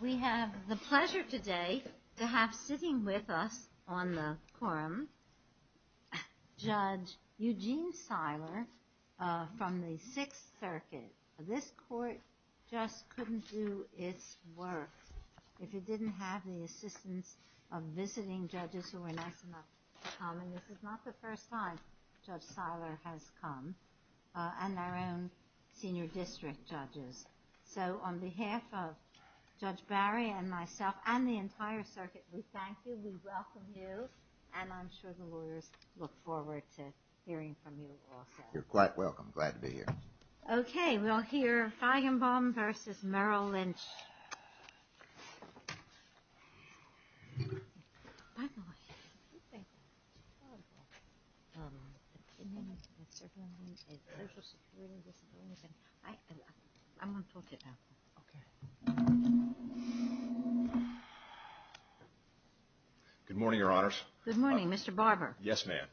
We have the pleasure today to have sitting with us on the quorum, Judge Eugene Seiler from the Sixth Circuit. This court just couldn't do its work if it didn't have the assistance of visiting judges who were nice enough to come. This is not the first time Judge Seiler has come, and our own senior district judges. So on behalf of Judge Barry and myself and the entire circuit, we thank you, we welcome you, and I'm sure the lawyers look forward to hearing from you also. You're quite welcome. Glad to be here. Okay, we'll hear Feigenbaum v. Merrill Lynch. Good morning, Your Honors. Good morning, Mr. Barber. Yes, ma'am.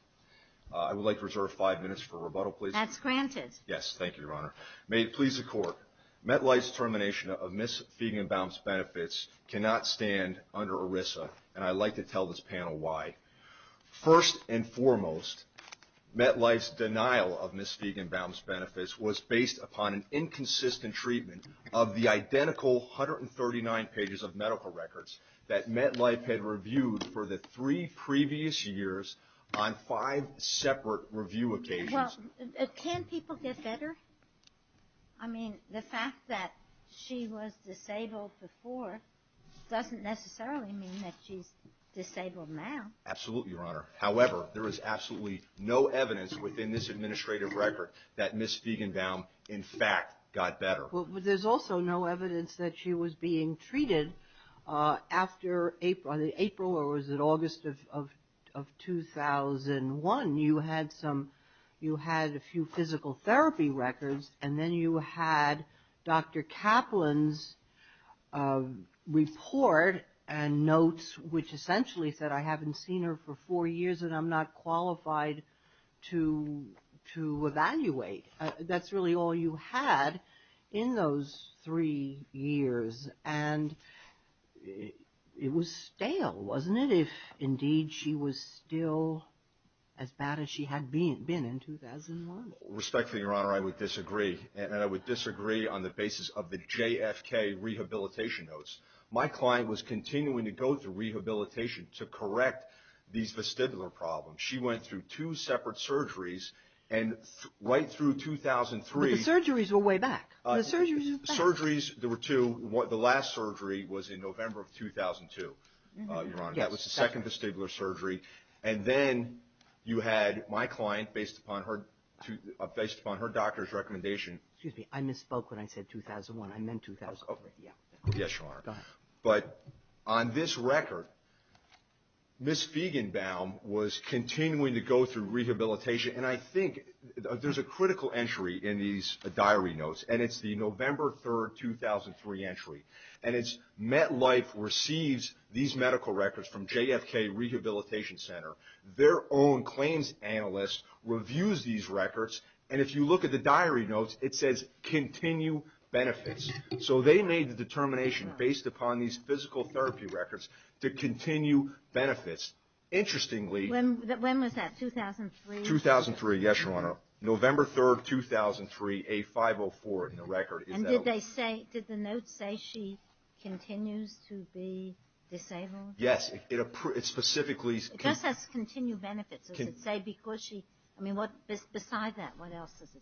I would like to reserve five minutes for rebuttal, please. That's granted. Yes, thank you, Your Honor. May it please the Court, MetLife's termination of Ms. Feigenbaum's benefits cannot stand under ERISA, and I'd like to tell this panel why. First and foremost, MetLife's denial of Ms. Feigenbaum's benefits was based upon an inconsistent treatment of the identical 139 pages of medical records that MetLife had reviewed for the three previous years on five separate review occasions. Well, can people get better? I mean, the fact that she was disabled before doesn't necessarily mean that she's disabled now. Absolutely, Your Honor. However, there is absolutely no evidence within this administrative record that Ms. Feigenbaum, in fact, got better. There's also no evidence that she was being treated after April or was it August of 2001. You had a few physical therapy records, and then you had Dr. Kaplan's report and notes which essentially said, I haven't seen her for four years and I'm not qualified to evaluate. That's really all you had in those three years, and it was stale, wasn't it, if indeed she was still as bad as she had been in 2001? Respectfully, Your Honor, I would disagree, and I would disagree on the basis of the JFK rehabilitation notes. My client was continuing to go through rehabilitation to correct these vestibular problems. She went through two separate surgeries, and right through 2003 — But the surgeries were way back. The surgeries were back. Surgeries, there were two. The last surgery was in November of 2002, Your Honor. Yes. That was the second vestibular surgery, and then you had my client, based upon her doctor's recommendation — Excuse me. I misspoke when I said 2001. I meant 2003. Yes, Your Honor. Go ahead. But on this record, Ms. Fiegenbaum was continuing to go through rehabilitation, and I think there's a critical entry in these diary notes, and it's the November 3, 2003 entry. And it's MetLife receives these medical records from JFK Rehabilitation Center. Their own claims analyst reviews these records, and if you look at the diary notes, it says, continue benefits. So they made the determination, based upon these physical therapy records, to continue benefits. Interestingly — When was that, 2003? 2003, yes, Your Honor. November 3, 2003, A504 in the record. And did the notes say she continues to be disabled? Yes. It specifically — It does say continue benefits. Does it say because she — I mean, beside that, what else does it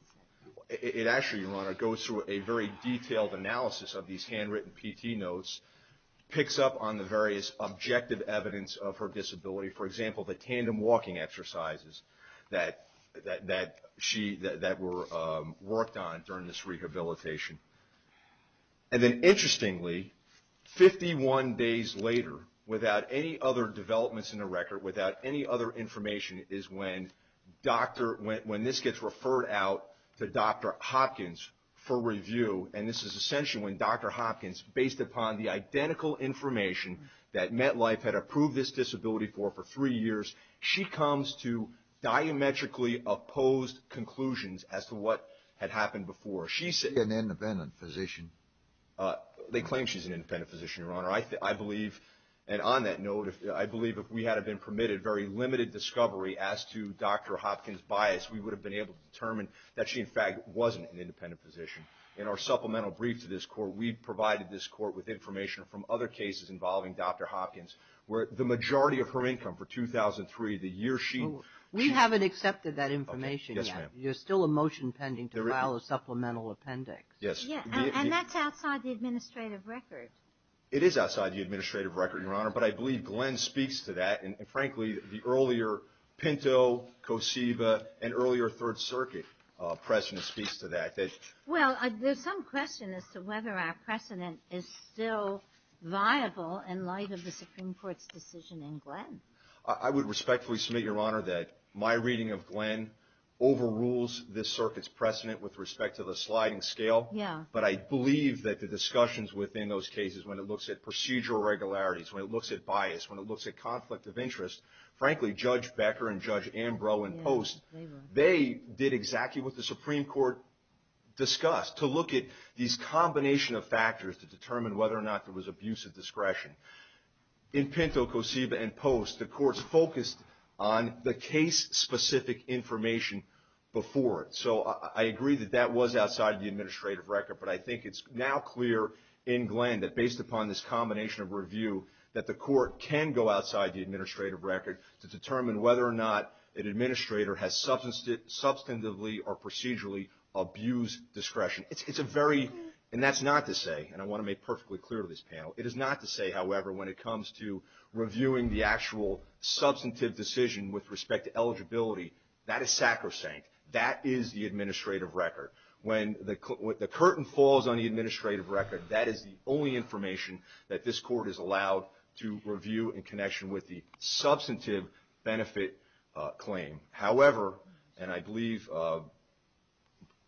say? It actually, Your Honor, goes through a very detailed analysis of these handwritten PT notes, picks up on the various objective evidence of her disability. For example, the tandem walking exercises that she — that were worked on during this rehabilitation. And then, interestingly, 51 days later, without any other developments in the record, without any other information, is when this gets referred out to Dr. Hopkins for review. And this is essentially when Dr. Hopkins, based upon the identical information that MetLife had approved this disability for for three years, she comes to diametrically opposed conclusions as to what had happened before. Is she an independent physician? They claim she's an independent physician, Your Honor. I believe — and on that note, I believe if we had have been permitted very limited discovery as to Dr. Hopkins' bias, we would have been able to determine that she, in fact, wasn't an independent physician. In our supplemental brief to this Court, we provided this Court with information from other cases involving Dr. Hopkins, where the majority of her income for 2003, the year she — We haven't accepted that information yet. Okay. Yes, ma'am. There's still a motion pending to file a supplemental appendix. Yes. And that's outside the administrative record. It is outside the administrative record, Your Honor, but I believe Glenn speaks to that. And, frankly, the earlier Pinto, Kosiva, and earlier Third Circuit precedent speaks to that. Well, there's some question as to whether our precedent is still viable in light of the Supreme Court's decision in Glenn. I would respectfully submit, Your Honor, that my reading of Glenn overrules this circuit's precedent with respect to the sliding scale. Yeah. But I believe that the discussions within those cases, when it looks at procedural regularities, when it looks at bias, when it looks at conflict of interest, frankly, Judge Becker and Judge Ambrose and Post, they did exactly what the Supreme Court discussed, to look at these combination of factors to determine whether or not there was abuse of discretion. In Pinto, Kosiva, and Post, the courts focused on the case-specific information before it. So I agree that that was outside the administrative record, but I think it's now clear in Glenn that, based upon this combination of review, that the court can go outside the administrative record to determine whether or not an administrator has substantively or procedurally abused discretion. It's a very, and that's not to say, and I want to make perfectly clear to this panel, it is not to say, however, when it comes to reviewing the actual substantive decision with respect to eligibility, that is sacrosanct. That is the administrative record. When the curtain falls on the administrative record, that is the only information that this court is allowed to review in connection with the substantive benefit claim. However, and I believe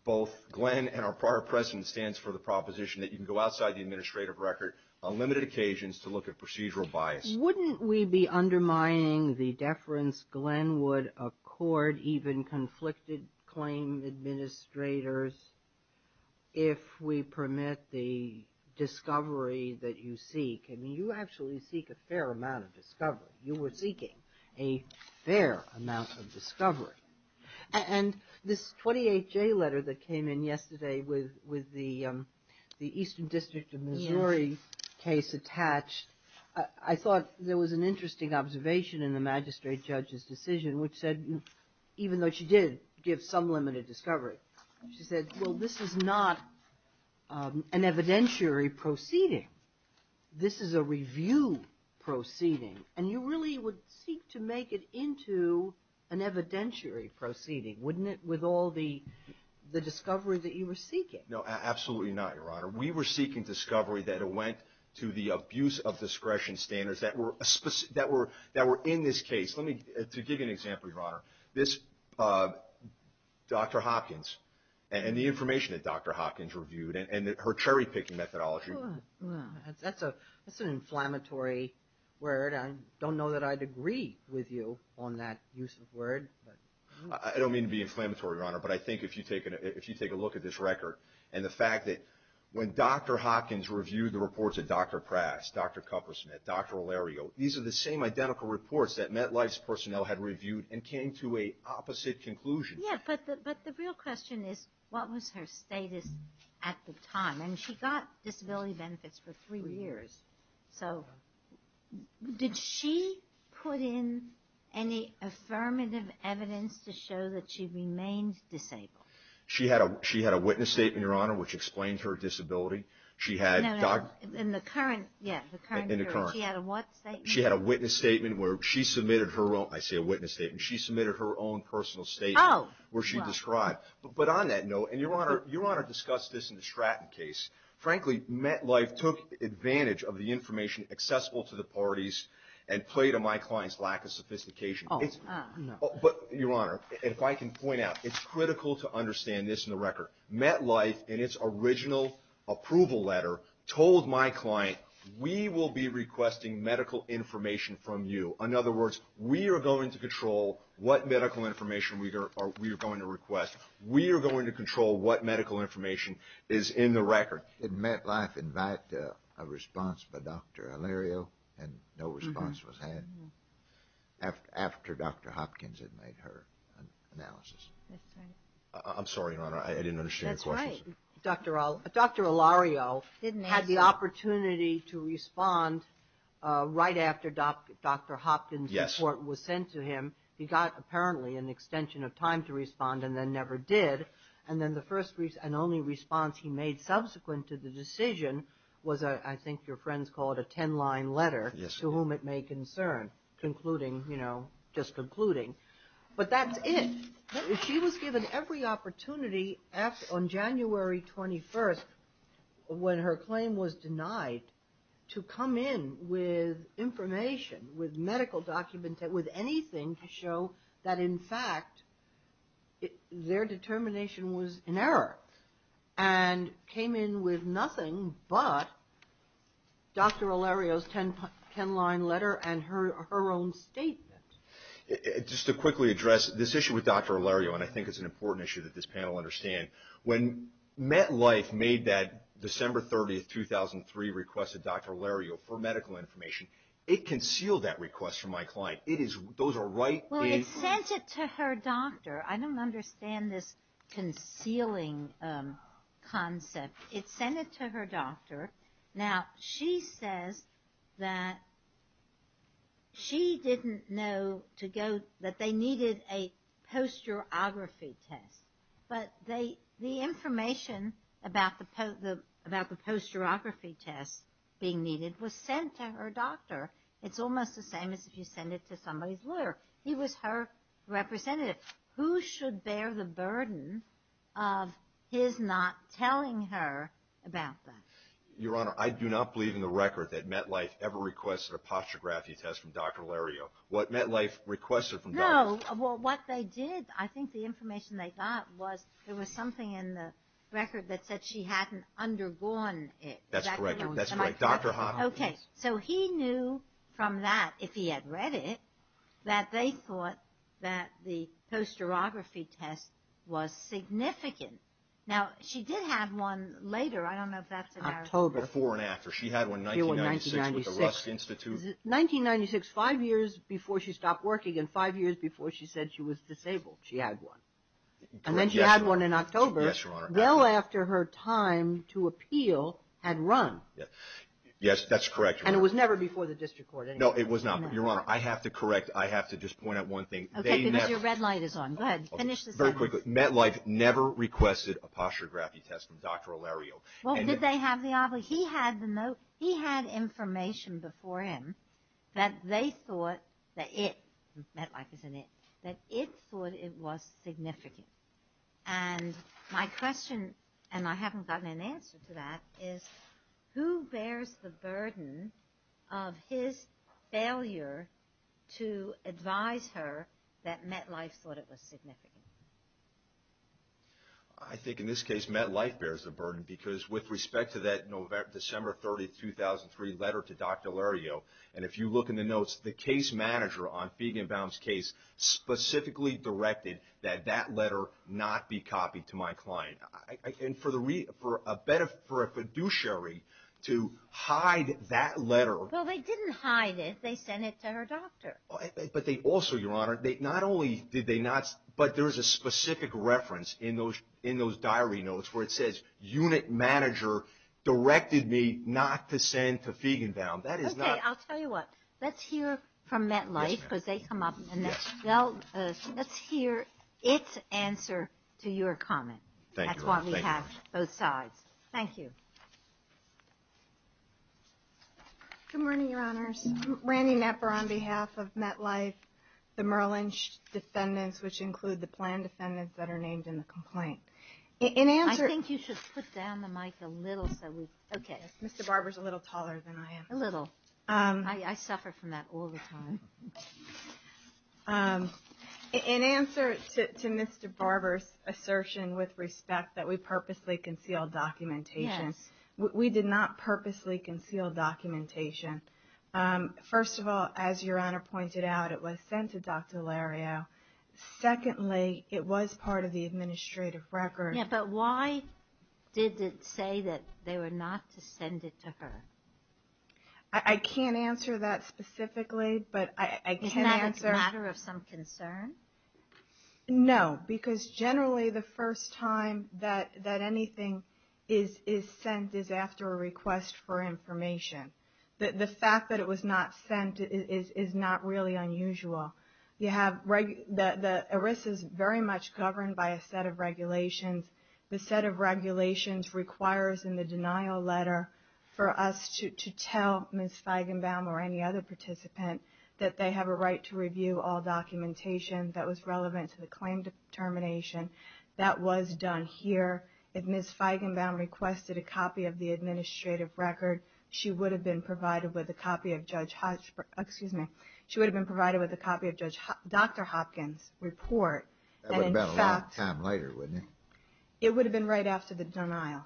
both Glenn and our prior precedent stands for the proposition that you can go outside the administrative record on limited occasions to look at procedural bias. Wouldn't we be undermining the deference Glenn would accord even conflicted claim administrators if we permit the discovery that you seek? I mean, you actually seek a fair amount of discovery. You were seeking a fair amount of discovery. And this 28J letter that came in yesterday with the Eastern District of Missouri case attached, I thought there was an interesting observation in the magistrate judge's decision which said, even though she did give some limited discovery, she said, well, this is not an evidentiary proceeding. This is a review proceeding. And you really would seek to make it into an evidentiary proceeding, wouldn't it, with all the discovery that you were seeking? No, absolutely not, Your Honor. We were seeking discovery that went to the abuse of discretion standards that were in this case. To give you an example, Your Honor, this Dr. Hopkins and the information that Dr. Hopkins reviewed and her cherry-picking methodology. That's an inflammatory word. I don't know that I'd agree with you on that use of word. I don't mean to be inflammatory, Your Honor, but I think if you take a look at this record and the fact that when Dr. Hopkins reviewed the reports of Dr. Pratt, Dr. Cuppersmith, Dr. Olario, these are the same identical reports that MetLife's personnel had reviewed and came to an opposite conclusion. Yeah, but the real question is, what was her status at the time? And she got disability benefits for three years. So did she put in any affirmative evidence to show that she remained disabled? She had a witness statement, Your Honor, which explained her disability. No, no, in the current period, she had a what statement? She had a witness statement where she submitted her own personal statement. But on that note, and Your Honor discussed this in the Stratton case, frankly, MetLife took advantage of the information accessible to the parties and played to my client's lack of sophistication. But, Your Honor, if I can point out, it's critical to understand this in the record. MetLife, in its original approval letter, told my client, we will be requesting medical information from you. In other words, we are going to control what medical information we are going to request. We are going to control what medical information is in the record. Did MetLife invite a response by Dr. Olario and no response was had after Dr. Hopkins had made her analysis? That's right. I'm sorry, Your Honor, I didn't understand your question. Dr. Olario had the opportunity to respond right after Dr. Hopkins' report was sent to him. He got, apparently, an extension of time to respond and then never did. And then the first and only response he made subsequent to the decision was, I think your friends call it a 10-line letter, to whom it may concern. Concluding, you know, just concluding. But that's it. She was given every opportunity on January 21st, when her claim was denied, to come in with information, with medical documents, with anything to show that, in fact, their determination was in error. And came in with nothing but Dr. Olario's 10-line letter and her own statement. Just to quickly address this issue with Dr. Olario, and I think it's an important issue that this panel understand, when MetLife made that December 30th, 2003 request to Dr. Olario for medical information, it concealed that request from my client. It is – those are right – Well, it sent it to her doctor. I don't understand this concealing concept. It sent it to her doctor. Now, she says that she didn't know to go – that they needed a posterography test. But the information about the posterography test being needed was sent to her doctor. It's almost the same as if you send it to somebody's lawyer. He was her representative. Who should bear the burden of his not telling her about that? Your Honor, I do not believe in the record that MetLife ever requested a posterography test from Dr. Olario. What MetLife requested from Dr. Olario – No. Well, what they did, I think the information they got was there was something in the record that said she hadn't undergone it. That's correct. That's correct. Dr. Hahn – Okay. So he knew from that, if he had read it, that they thought that the posterography test was significant. Now, she did have one later. I don't know if that's a narrative. October. Before and after. She had one 1996 with the Rust Institute. 1996, five years before she stopped working and five years before she said she was disabled. She had one. Yes, Your Honor. And then she had one in October. Yes, Your Honor. Well after her time to appeal had run. Yes, that's correct, Your Honor. And it was never before the district court. No, it was not. But, Your Honor, I have to correct. I have to just point out one thing. Okay, because your red light is on. Go ahead. Finish this up. Just very quickly. MetLife never requested a posterography test from Dr. O'Leary. Well, did they have the – he had the note. He had information before him that they thought that it – MetLife is an it – that it thought it was significant. And my question, and I haven't gotten an answer to that, is who bears the burden of his failure to advise her that MetLife thought it was significant? I think in this case MetLife bears the burden because with respect to that December 30, 2003 letter to Dr. O'Leary, and if you look in the notes, the case manager on Feig and Baum's case specifically directed that that letter not be copied to my client. And for the – for a fiduciary to hide that letter. Well, they didn't hide it. They sent it to her doctor. But they also, Your Honor, not only did they not – but there is a specific reference in those diary notes where it says, unit manager directed me not to send to Feig and Baum. That is not – Okay, I'll tell you what. Let's hear from MetLife because they come up and let's hear its answer to your comment. Thank you. That's why we have both sides. Thank you. Good morning, Your Honors. Randy Knepper on behalf of MetLife, the Merlin defendants, which include the planned defendants that are named in the complaint. In answer – I think you should put down the mic a little so we – okay. Mr. Barber's a little taller than I am. A little. I suffer from that all the time. In answer to Mr. Barber's assertion with respect that we purposely concealed documentation. Yes. We did not purposely conceal documentation. First of all, as Your Honor pointed out, it was sent to Dr. Lario. Secondly, it was part of the administrative record. Yeah, but why did it say that they were not to send it to her? I can't answer that specifically, but I can answer – Isn't that a matter of some concern? No, because generally the first time that anything is sent is after a request for information. The fact that it was not sent is not really unusual. The ERISA is very much governed by a set of regulations. The set of regulations requires in the denial letter for us to tell Ms. Feigenbaum or any other participant that they have a right to review all documentation that was relevant to the claim determination. That was done here. If Ms. Feigenbaum requested a copy of the administrative record, she would have been provided with a copy of Judge – excuse me, she would have been provided with a copy of Dr. Hopkins' report. That would have been a long time later, wouldn't it? It would have been right after the denial.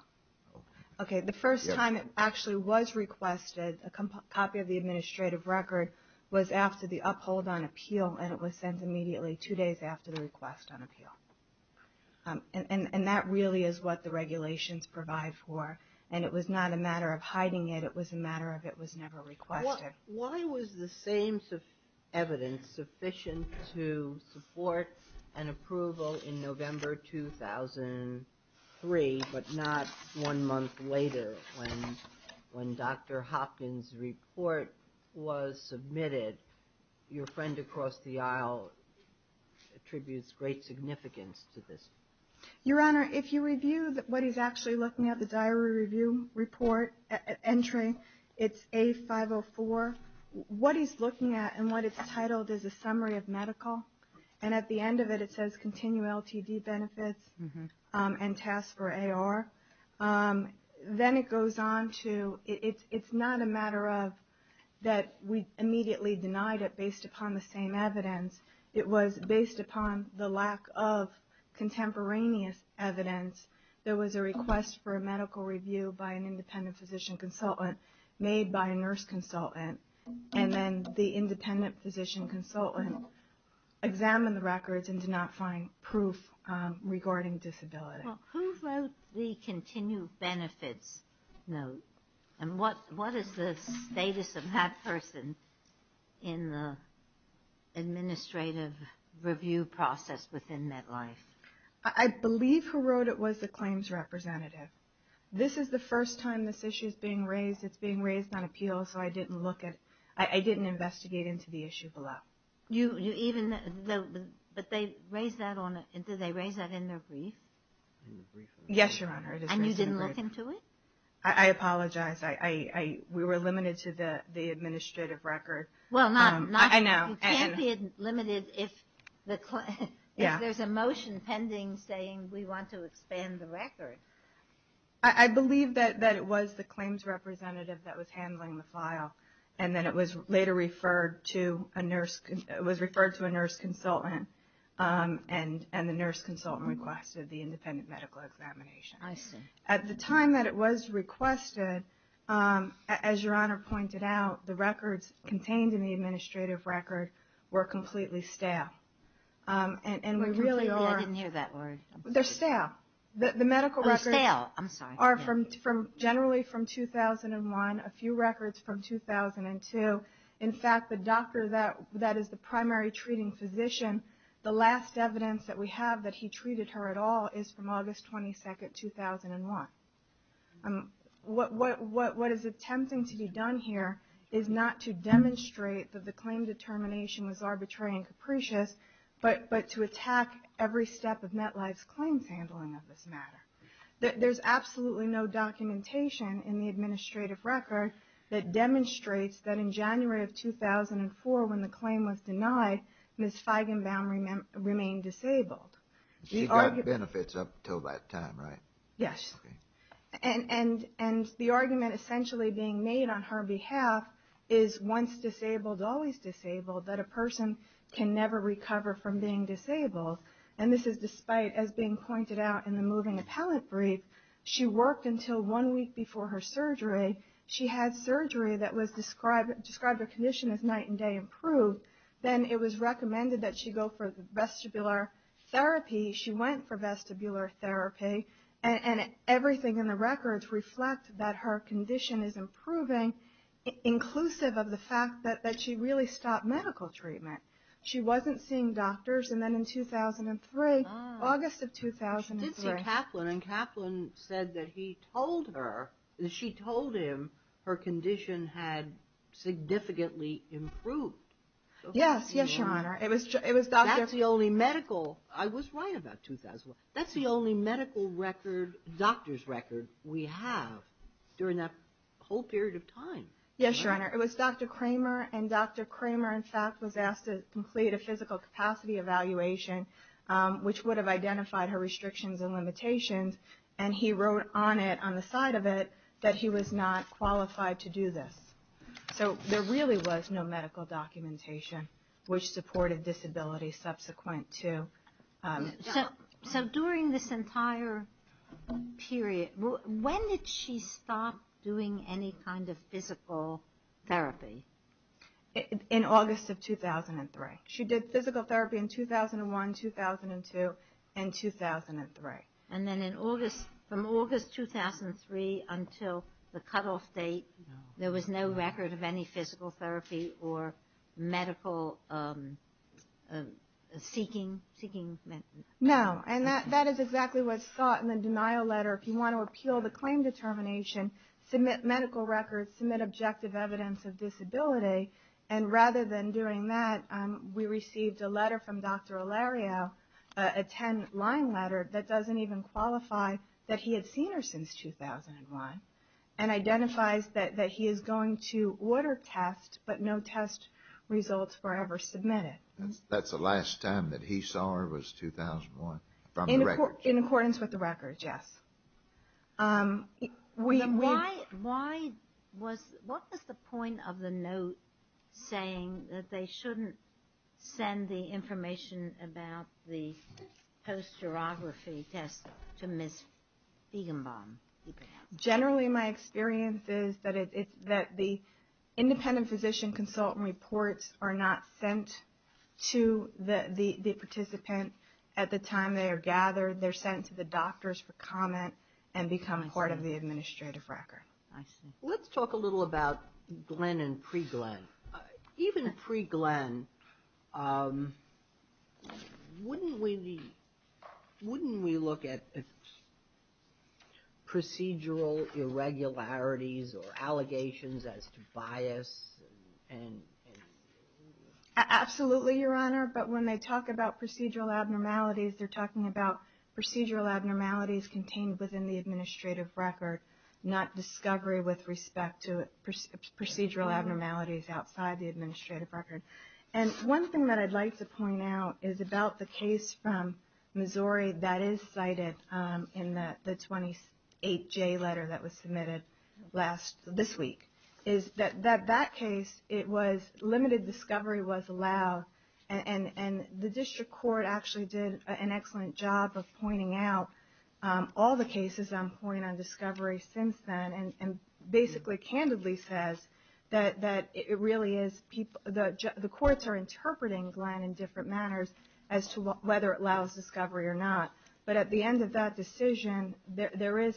Okay. The first time it actually was requested, a copy of the administrative record, was after the uphold on appeal, and it was sent immediately two days after the request on appeal. And that really is what the regulations provide for, and it was not a matter of hiding it, it was a matter of it was never requested. Why was the same evidence sufficient to support an approval in November 2003, but not one month later when Dr. Hopkins' report was submitted? Your friend across the aisle attributes great significance to this. Your Honor, if you review what he's actually looking at, the diary review report, it's A504. What he's looking at and what it's titled is a summary of medical, and at the end of it it says continue LTD benefits and tasks for AR. Then it goes on to – it's not a matter of that we immediately denied it based upon the same evidence. It was based upon the lack of contemporaneous evidence there was a request for a medical review by an independent physician consultant made by a nurse consultant, and then the independent physician consultant examined the records and did not find proof regarding disability. Well, who wrote the continue benefits note, and what is the status of that person in the administrative review process within MetLife? I believe who wrote it was the claims representative. This is the first time this issue is being raised. It's being raised on appeal, so I didn't look at – I didn't investigate into the issue below. You even – but they raised that on – did they raise that in their brief? Yes, Your Honor. And you didn't look into it? I apologize. We were limited to the administrative record. Well, not – I know. You can't be limited if there's a motion pending saying we want to expand the record. I believe that it was the claims representative that was handling the file, and then it was later referred to a nurse – it was referred to a nurse consultant, and the nurse consultant requested the independent medical examination. I see. At the time that it was requested, as Your Honor pointed out, the records contained in the administrative record were completely stale. And we really are – Completely? I didn't hear that word. They're stale. The medical records – Oh, stale. I'm sorry. – are from – generally from 2001, a few records from 2002. In fact, the doctor that is the primary treating physician, the last evidence that we have that he treated her at all is from August 22, 2001. What is attempting to be done here is not to demonstrate that the claim determination was arbitrary and capricious, but to attack every step of MetLife's claims handling of this matter. There's absolutely no documentation in the administrative record that demonstrates that in January of 2004 when the claim was denied, Ms. Feigenbaum remained disabled. She got benefits up until that time, right? Yes. Okay. And the argument essentially being made on her behalf is once disabled, always disabled, that a person can never recover from being disabled. And this is despite, as being pointed out in the moving appellate brief, she worked until one week before her surgery. She had surgery that described her condition as night and day improved. Then it was recommended that she go for vestibular therapy. She went for vestibular therapy. And everything in the records reflect that her condition is improving, inclusive of the fact that she really stopped medical treatment. She wasn't seeing doctors. And then in 2003, August of 2003. She did see Kaplan, and Kaplan said that he told her, that she told him her condition had significantly improved. Yes. Yes, Your Honor. It was Dr. I was right about 2001. That's the only medical record, doctor's record, we have during that whole period of time. Yes, Your Honor. It was Dr. Kramer, and Dr. Kramer, in fact, was asked to complete a physical capacity evaluation, which would have identified her restrictions and limitations. And he wrote on it, on the side of it, that he was not qualified to do this. So there really was no medical documentation, which supported disability subsequent to. So during this entire period, when did she stop doing any kind of physical therapy? In August of 2003. She did physical therapy in 2001, 2002, and 2003. And then in August, from August 2003 until the cutoff date, there was no record of any physical therapy or medical seeking. No, and that is exactly what's sought in the denial letter. If you want to repeal the claim determination, submit medical records, submit objective evidence of disability. And rather than doing that, we received a letter from Dr. Olario, a 10-line letter that doesn't even qualify that he had seen her since 2001, and identifies that he is going to order tests, but no test results were ever submitted. That's the last time that he saw her was 2001, from the record. In accordance with the record, yes. Why was, what was the point of the note saying that they shouldn't send the information about the posterography test to Ms. Feigenbaum? Generally, my experience is that the independent physician consultant reports are not sent to the participant at the time they are gathered. They're sent to the doctors for comment and become part of the administrative record. I see. Let's talk a little about Glenn and pre-Glenn. Even pre-Glenn, wouldn't we look at procedural irregularities or allegations as to bias? Absolutely, Your Honor, but when they talk about procedural abnormalities, they're talking about procedural abnormalities contained within the administrative record, not discovery with respect to procedural abnormalities outside the administrative record. One thing that I'd like to point out is about the case from Missouri that is cited in the 28-J letter that was submitted this week. That case, limited discovery was allowed, and the district court actually did an excellent job of pointing out all the cases on discovery since then and basically candidly says that the courts are interpreting Glenn in different manners as to whether it allows discovery or not. But at the end of that decision, there is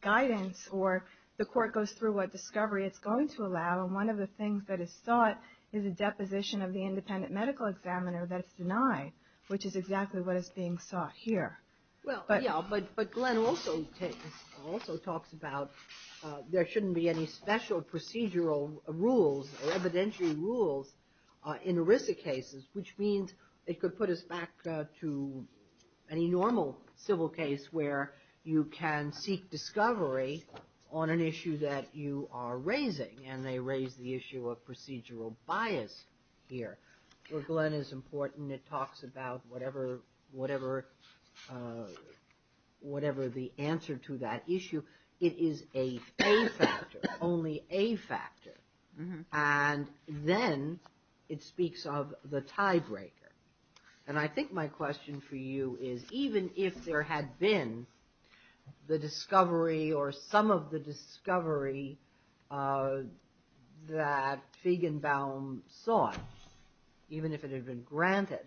guidance or the court goes through what discovery it's going to allow, and one of the things that is sought is a deposition of the independent medical examiner that is denied, which is exactly what is being sought here. Well, yeah, but Glenn also talks about there shouldn't be any special procedural rules or evidentiary rules in ERISA cases, which means it could put us back to any normal civil case where you can seek discovery on an issue that you are raising, and they raise the issue of procedural bias here. Well, Glenn is important. It talks about whatever the answer to that issue. It is a factor, only a factor, and then it speaks of the tiebreaker, and I think my question for you is even if there had been the discovery or some of the discovery that Feigenbaum sought, even if it had been granted,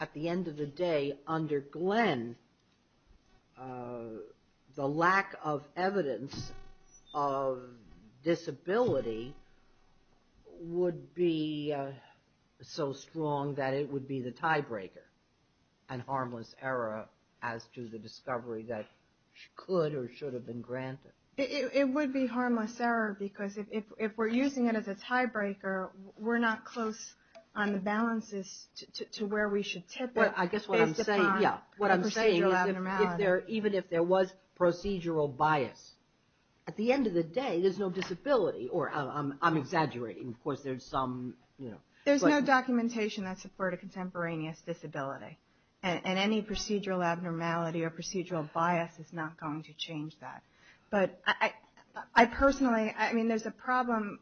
at the end of the day under Glenn, the lack of evidence of disability would be so strong that it would be the tiebreaker and harmless error as to the discovery that could or should have been granted. It would be harmless error because if we're using it as a tiebreaker, we're not close on the balances to where we should tip it. Well, I guess what I'm saying, yeah, what I'm saying is even if there was procedural bias, at the end of the day there's no disability, or I'm exaggerating. Of course, there's some, you know. There's no documentation that support a contemporaneous disability, and any procedural abnormality or procedural bias is not going to change that. But I personally, I mean there's a problem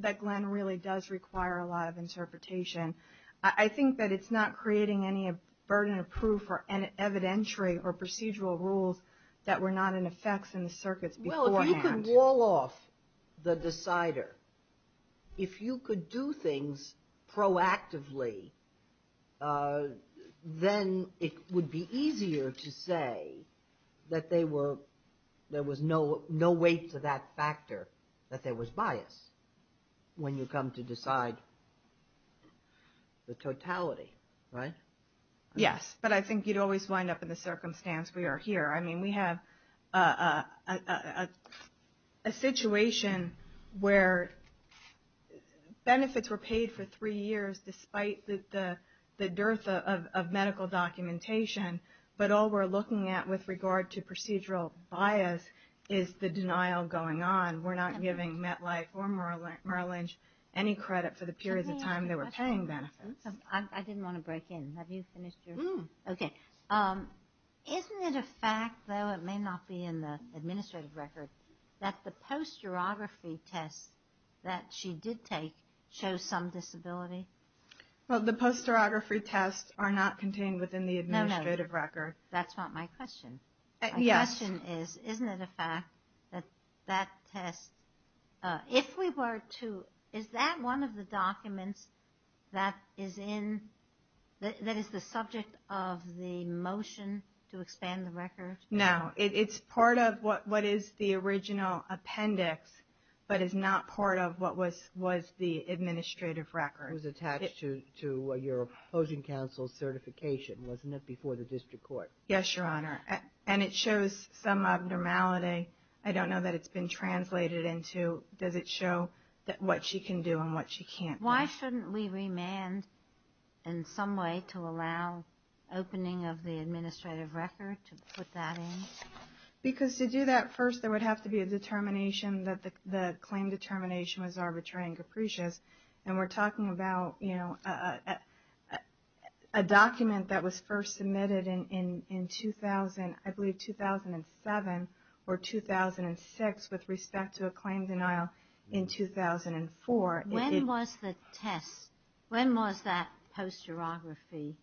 that Glenn really does require a lot of interpretation. I think that it's not creating any burden of proof or evidentiary or procedural rules that were not in effect in the circuits beforehand. You can wall off the decider. If you could do things proactively, then it would be easier to say that there was no weight to that factor, that there was bias when you come to decide the totality, right? Yes, but I think you'd always wind up in the circumstance we are here. I mean, we have a situation where benefits were paid for three years despite the dearth of medical documentation, but all we're looking at with regard to procedural bias is the denial going on. We're not giving MetLife or Merlinch any credit for the period of time they were paying benefits. I didn't want to break in. Have you finished your? Okay. Isn't it a fact, though it may not be in the administrative record, that the posterography tests that she did take show some disability? Well, the posterography tests are not contained within the administrative record. No, no, that's not my question. My question is, isn't it a fact that that test, if we were to, is that one of the documents that is in, that is the subject of the motion to expand the record? No, it's part of what is the original appendix, but is not part of what was the administrative record. It was attached to your opposing counsel's certification, wasn't it, before the district court? Yes, Your Honor, and it shows some abnormality. I don't know that it's been translated into. Does it show what she can do and what she can't do? Why shouldn't we remand in some way to allow opening of the administrative record to put that in? Because to do that, first there would have to be a determination that the claim determination was arbitrary and capricious, and we're talking about a document that was first submitted in, I believe, 2007 or 2006 with respect to a claim denial in 2004. When was the test, when was that posterography?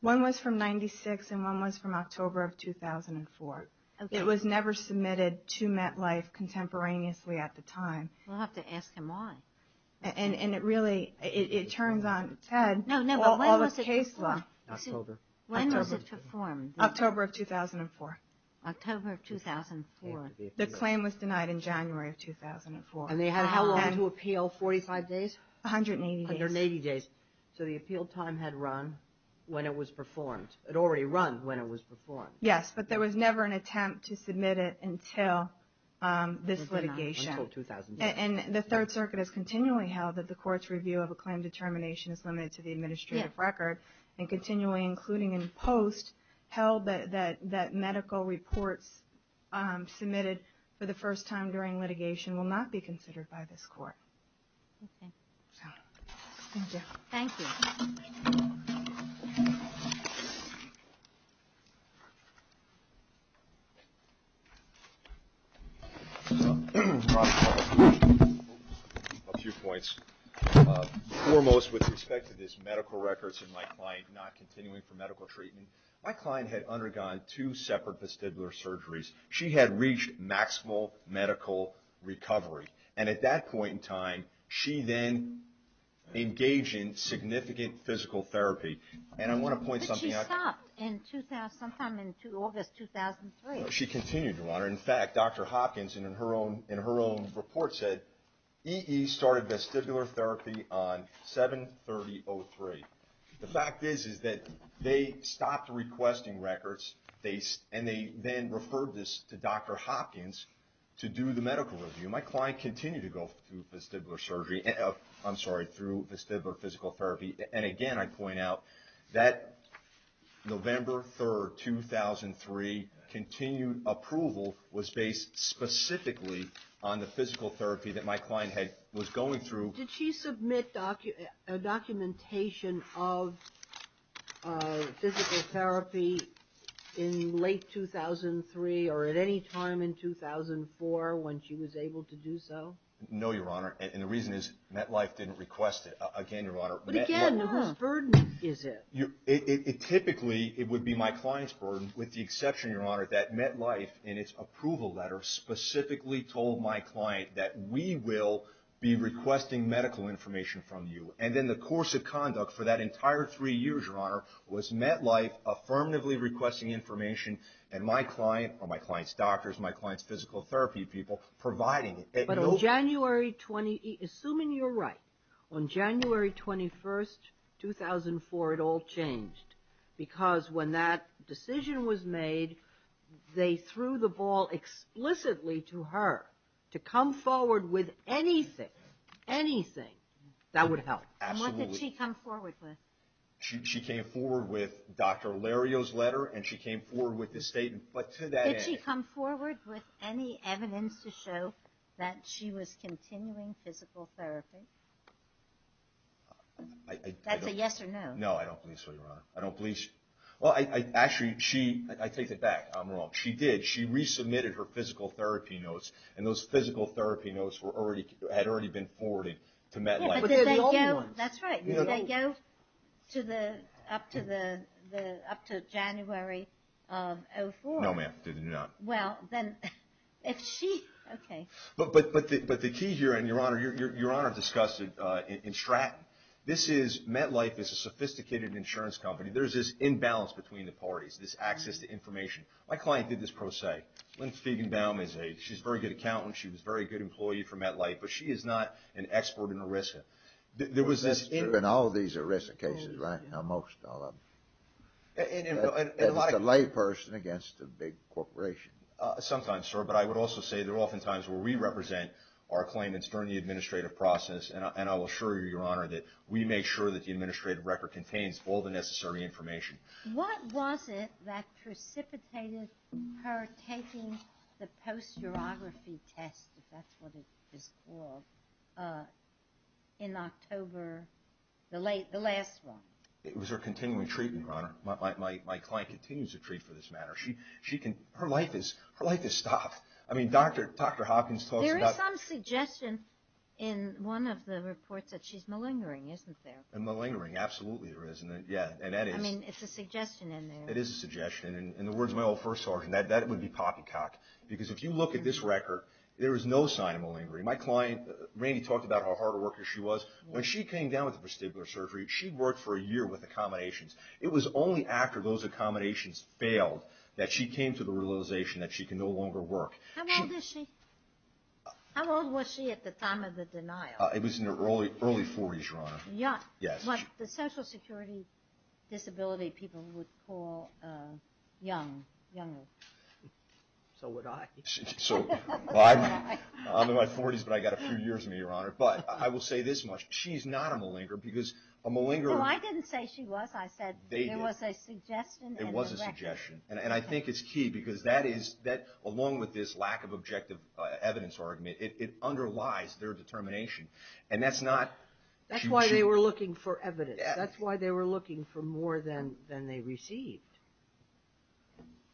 One was from 96 and one was from October of 2004. It was never submitted to MetLife contemporaneously at the time. We'll have to ask him why. And it really, it turns on Ted all the case law. When was it performed? October of 2004. October of 2004. The claim was denied in January of 2004. And they had how long to appeal, 45 days? 180 days. 180 days. So the appeal time had run when it was performed. It had already run when it was performed. Yes, but there was never an attempt to submit it until this litigation. Until 2008. And the Third Circuit has continually held that the court's review of a claim determination is limited to the administrative record, and continually, including in post, held that medical reports submitted for the first time during litigation will not be considered by this court. Okay. Thank you. Thank you. A few points. Foremost with respect to this medical records and my client not continuing for medical treatment, my client had undergone two separate vestibular surgeries. She had reached maximal medical recovery. And at that point in time, she then engaged in significant physical therapy. And I want to point something out. But she stopped sometime in August 2003. No, she continued to run. In fact, Dr. Hopkins, in her own report, said, EE started vestibular therapy on 7-30-03. The fact is that they stopped requesting records, and they then referred this to Dr. Hopkins to do the medical review. My client continued to go through vestibular surgery. I'm sorry, through vestibular physical therapy. And again, I point out that November 3, 2003, continued approval was based specifically on the physical therapy that my client was going through. Did she submit a documentation of physical therapy in late 2003 or at any time in 2004 when she was able to do so? No, Your Honor. And the reason is MetLife didn't request it. Again, Your Honor. But again, whose burden is it? Typically, it would be my client's burden, with the exception, Your Honor, that MetLife, in its approval letter, specifically told my client that we will be requesting medical information from you. And then the course of conduct for that entire three years, Your Honor, was MetLife affirmatively requesting information, and my client or my client's doctors, my client's physical therapy people providing it. But on January 20, assuming you're right, on January 21, 2004, it all changed. Because when that decision was made, they threw the ball explicitly to her to come forward with anything, anything that would help. Absolutely. And what did she come forward with? She came forward with Dr. Lario's letter, and she came forward with the statement. Did she come forward with any evidence to show that she was continuing physical therapy? That's a yes or no. No, I don't believe so, Your Honor. I don't believe she – well, actually, she – I take that back. I'm wrong. She did. She resubmitted her physical therapy notes, and those physical therapy notes had already been forwarded to MetLife. But did they go – that's right. Did they go to the – up to the – up to January of 2004? No, ma'am. They did not. Well, then, if she – okay. But the key here, and, Your Honor, Your Honor discussed it in Stratton. This is – MetLife is a sophisticated insurance company. There's this imbalance between the parties, this access to information. My client did this pro se. Lynn Fiegenbaum is a – she's a very good accountant. She was a very good employee for MetLife. But she is not an expert in ERISA. There was this – That's true. In all these ERISA cases, right? Now, most all of them. And a lot of – It's a layperson against a big corporation. Sometimes, sir. But I would also say there are often times where we represent our claimants during the administrative process, and I will assure you, Your Honor, that we make sure that the administrative record contains all the necessary information. What was it that precipitated her taking the post-urography test, if that's what it is called, in October, the last one? It was her continuing treatment, Your Honor. My client continues to treat for this matter. She can – her life is stopped. I mean, Dr. Hopkins talks about – There is some suggestion in one of the reports that she's malingering, isn't there? And malingering, absolutely there is. Yeah, and that is – I mean, it's a suggestion in there. It is a suggestion. In the words of my old first sergeant, that would be pockycock, because if you look at this record, there is no sign of malingering. My client, Randy, talked about how hard a worker she was. When she came down with the vestibular surgery, she worked for a year with accommodations. It was only after those accommodations failed that she came to the realization that she could no longer work. How old is she? It was in her early 40s, Your Honor. Young. What the Social Security disability people would call young, younger. So would I. I'm in my 40s, but I've got a few years in me, Your Honor. But I will say this much. She's not a malingerer, because a malingerer – No, I didn't say she was. I said there was a suggestion in the record. It was a suggestion. And I think it's key, because that is – along with this lack of objective evidence argument, it underlies their determination. And that's not – That's why they were looking for evidence. That's why they were looking for more than they received.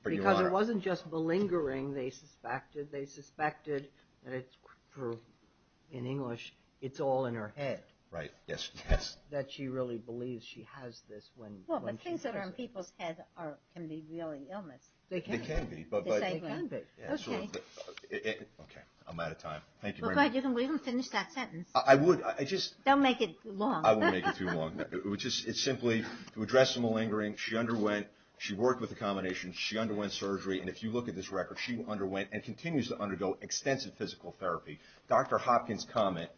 Because it wasn't just malingering they suspected. They suspected that it's for – in English, it's all in her head. Right, yes. That she really believes she has this when she hears it. Well, but things that are in people's head can be really illness. They can be. They can be. Okay. I'm out of time. Thank you very much. Go ahead. You can leave and finish that sentence. I would. Don't make it long. I won't make it too long. It's simply to address the malingering. She underwent – she worked with accommodations. She underwent surgery. And if you look at this record, she underwent and continues to undergo extensive physical therapy. Dr. Hopkins' comment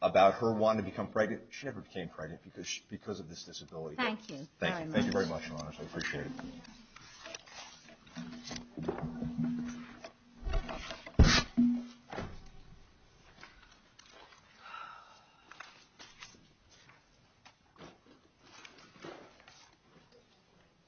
about her wanting to become pregnant – she never became pregnant because of this disability. Thank you very much. Thank you very much, Your Honor. I appreciate it. Wow.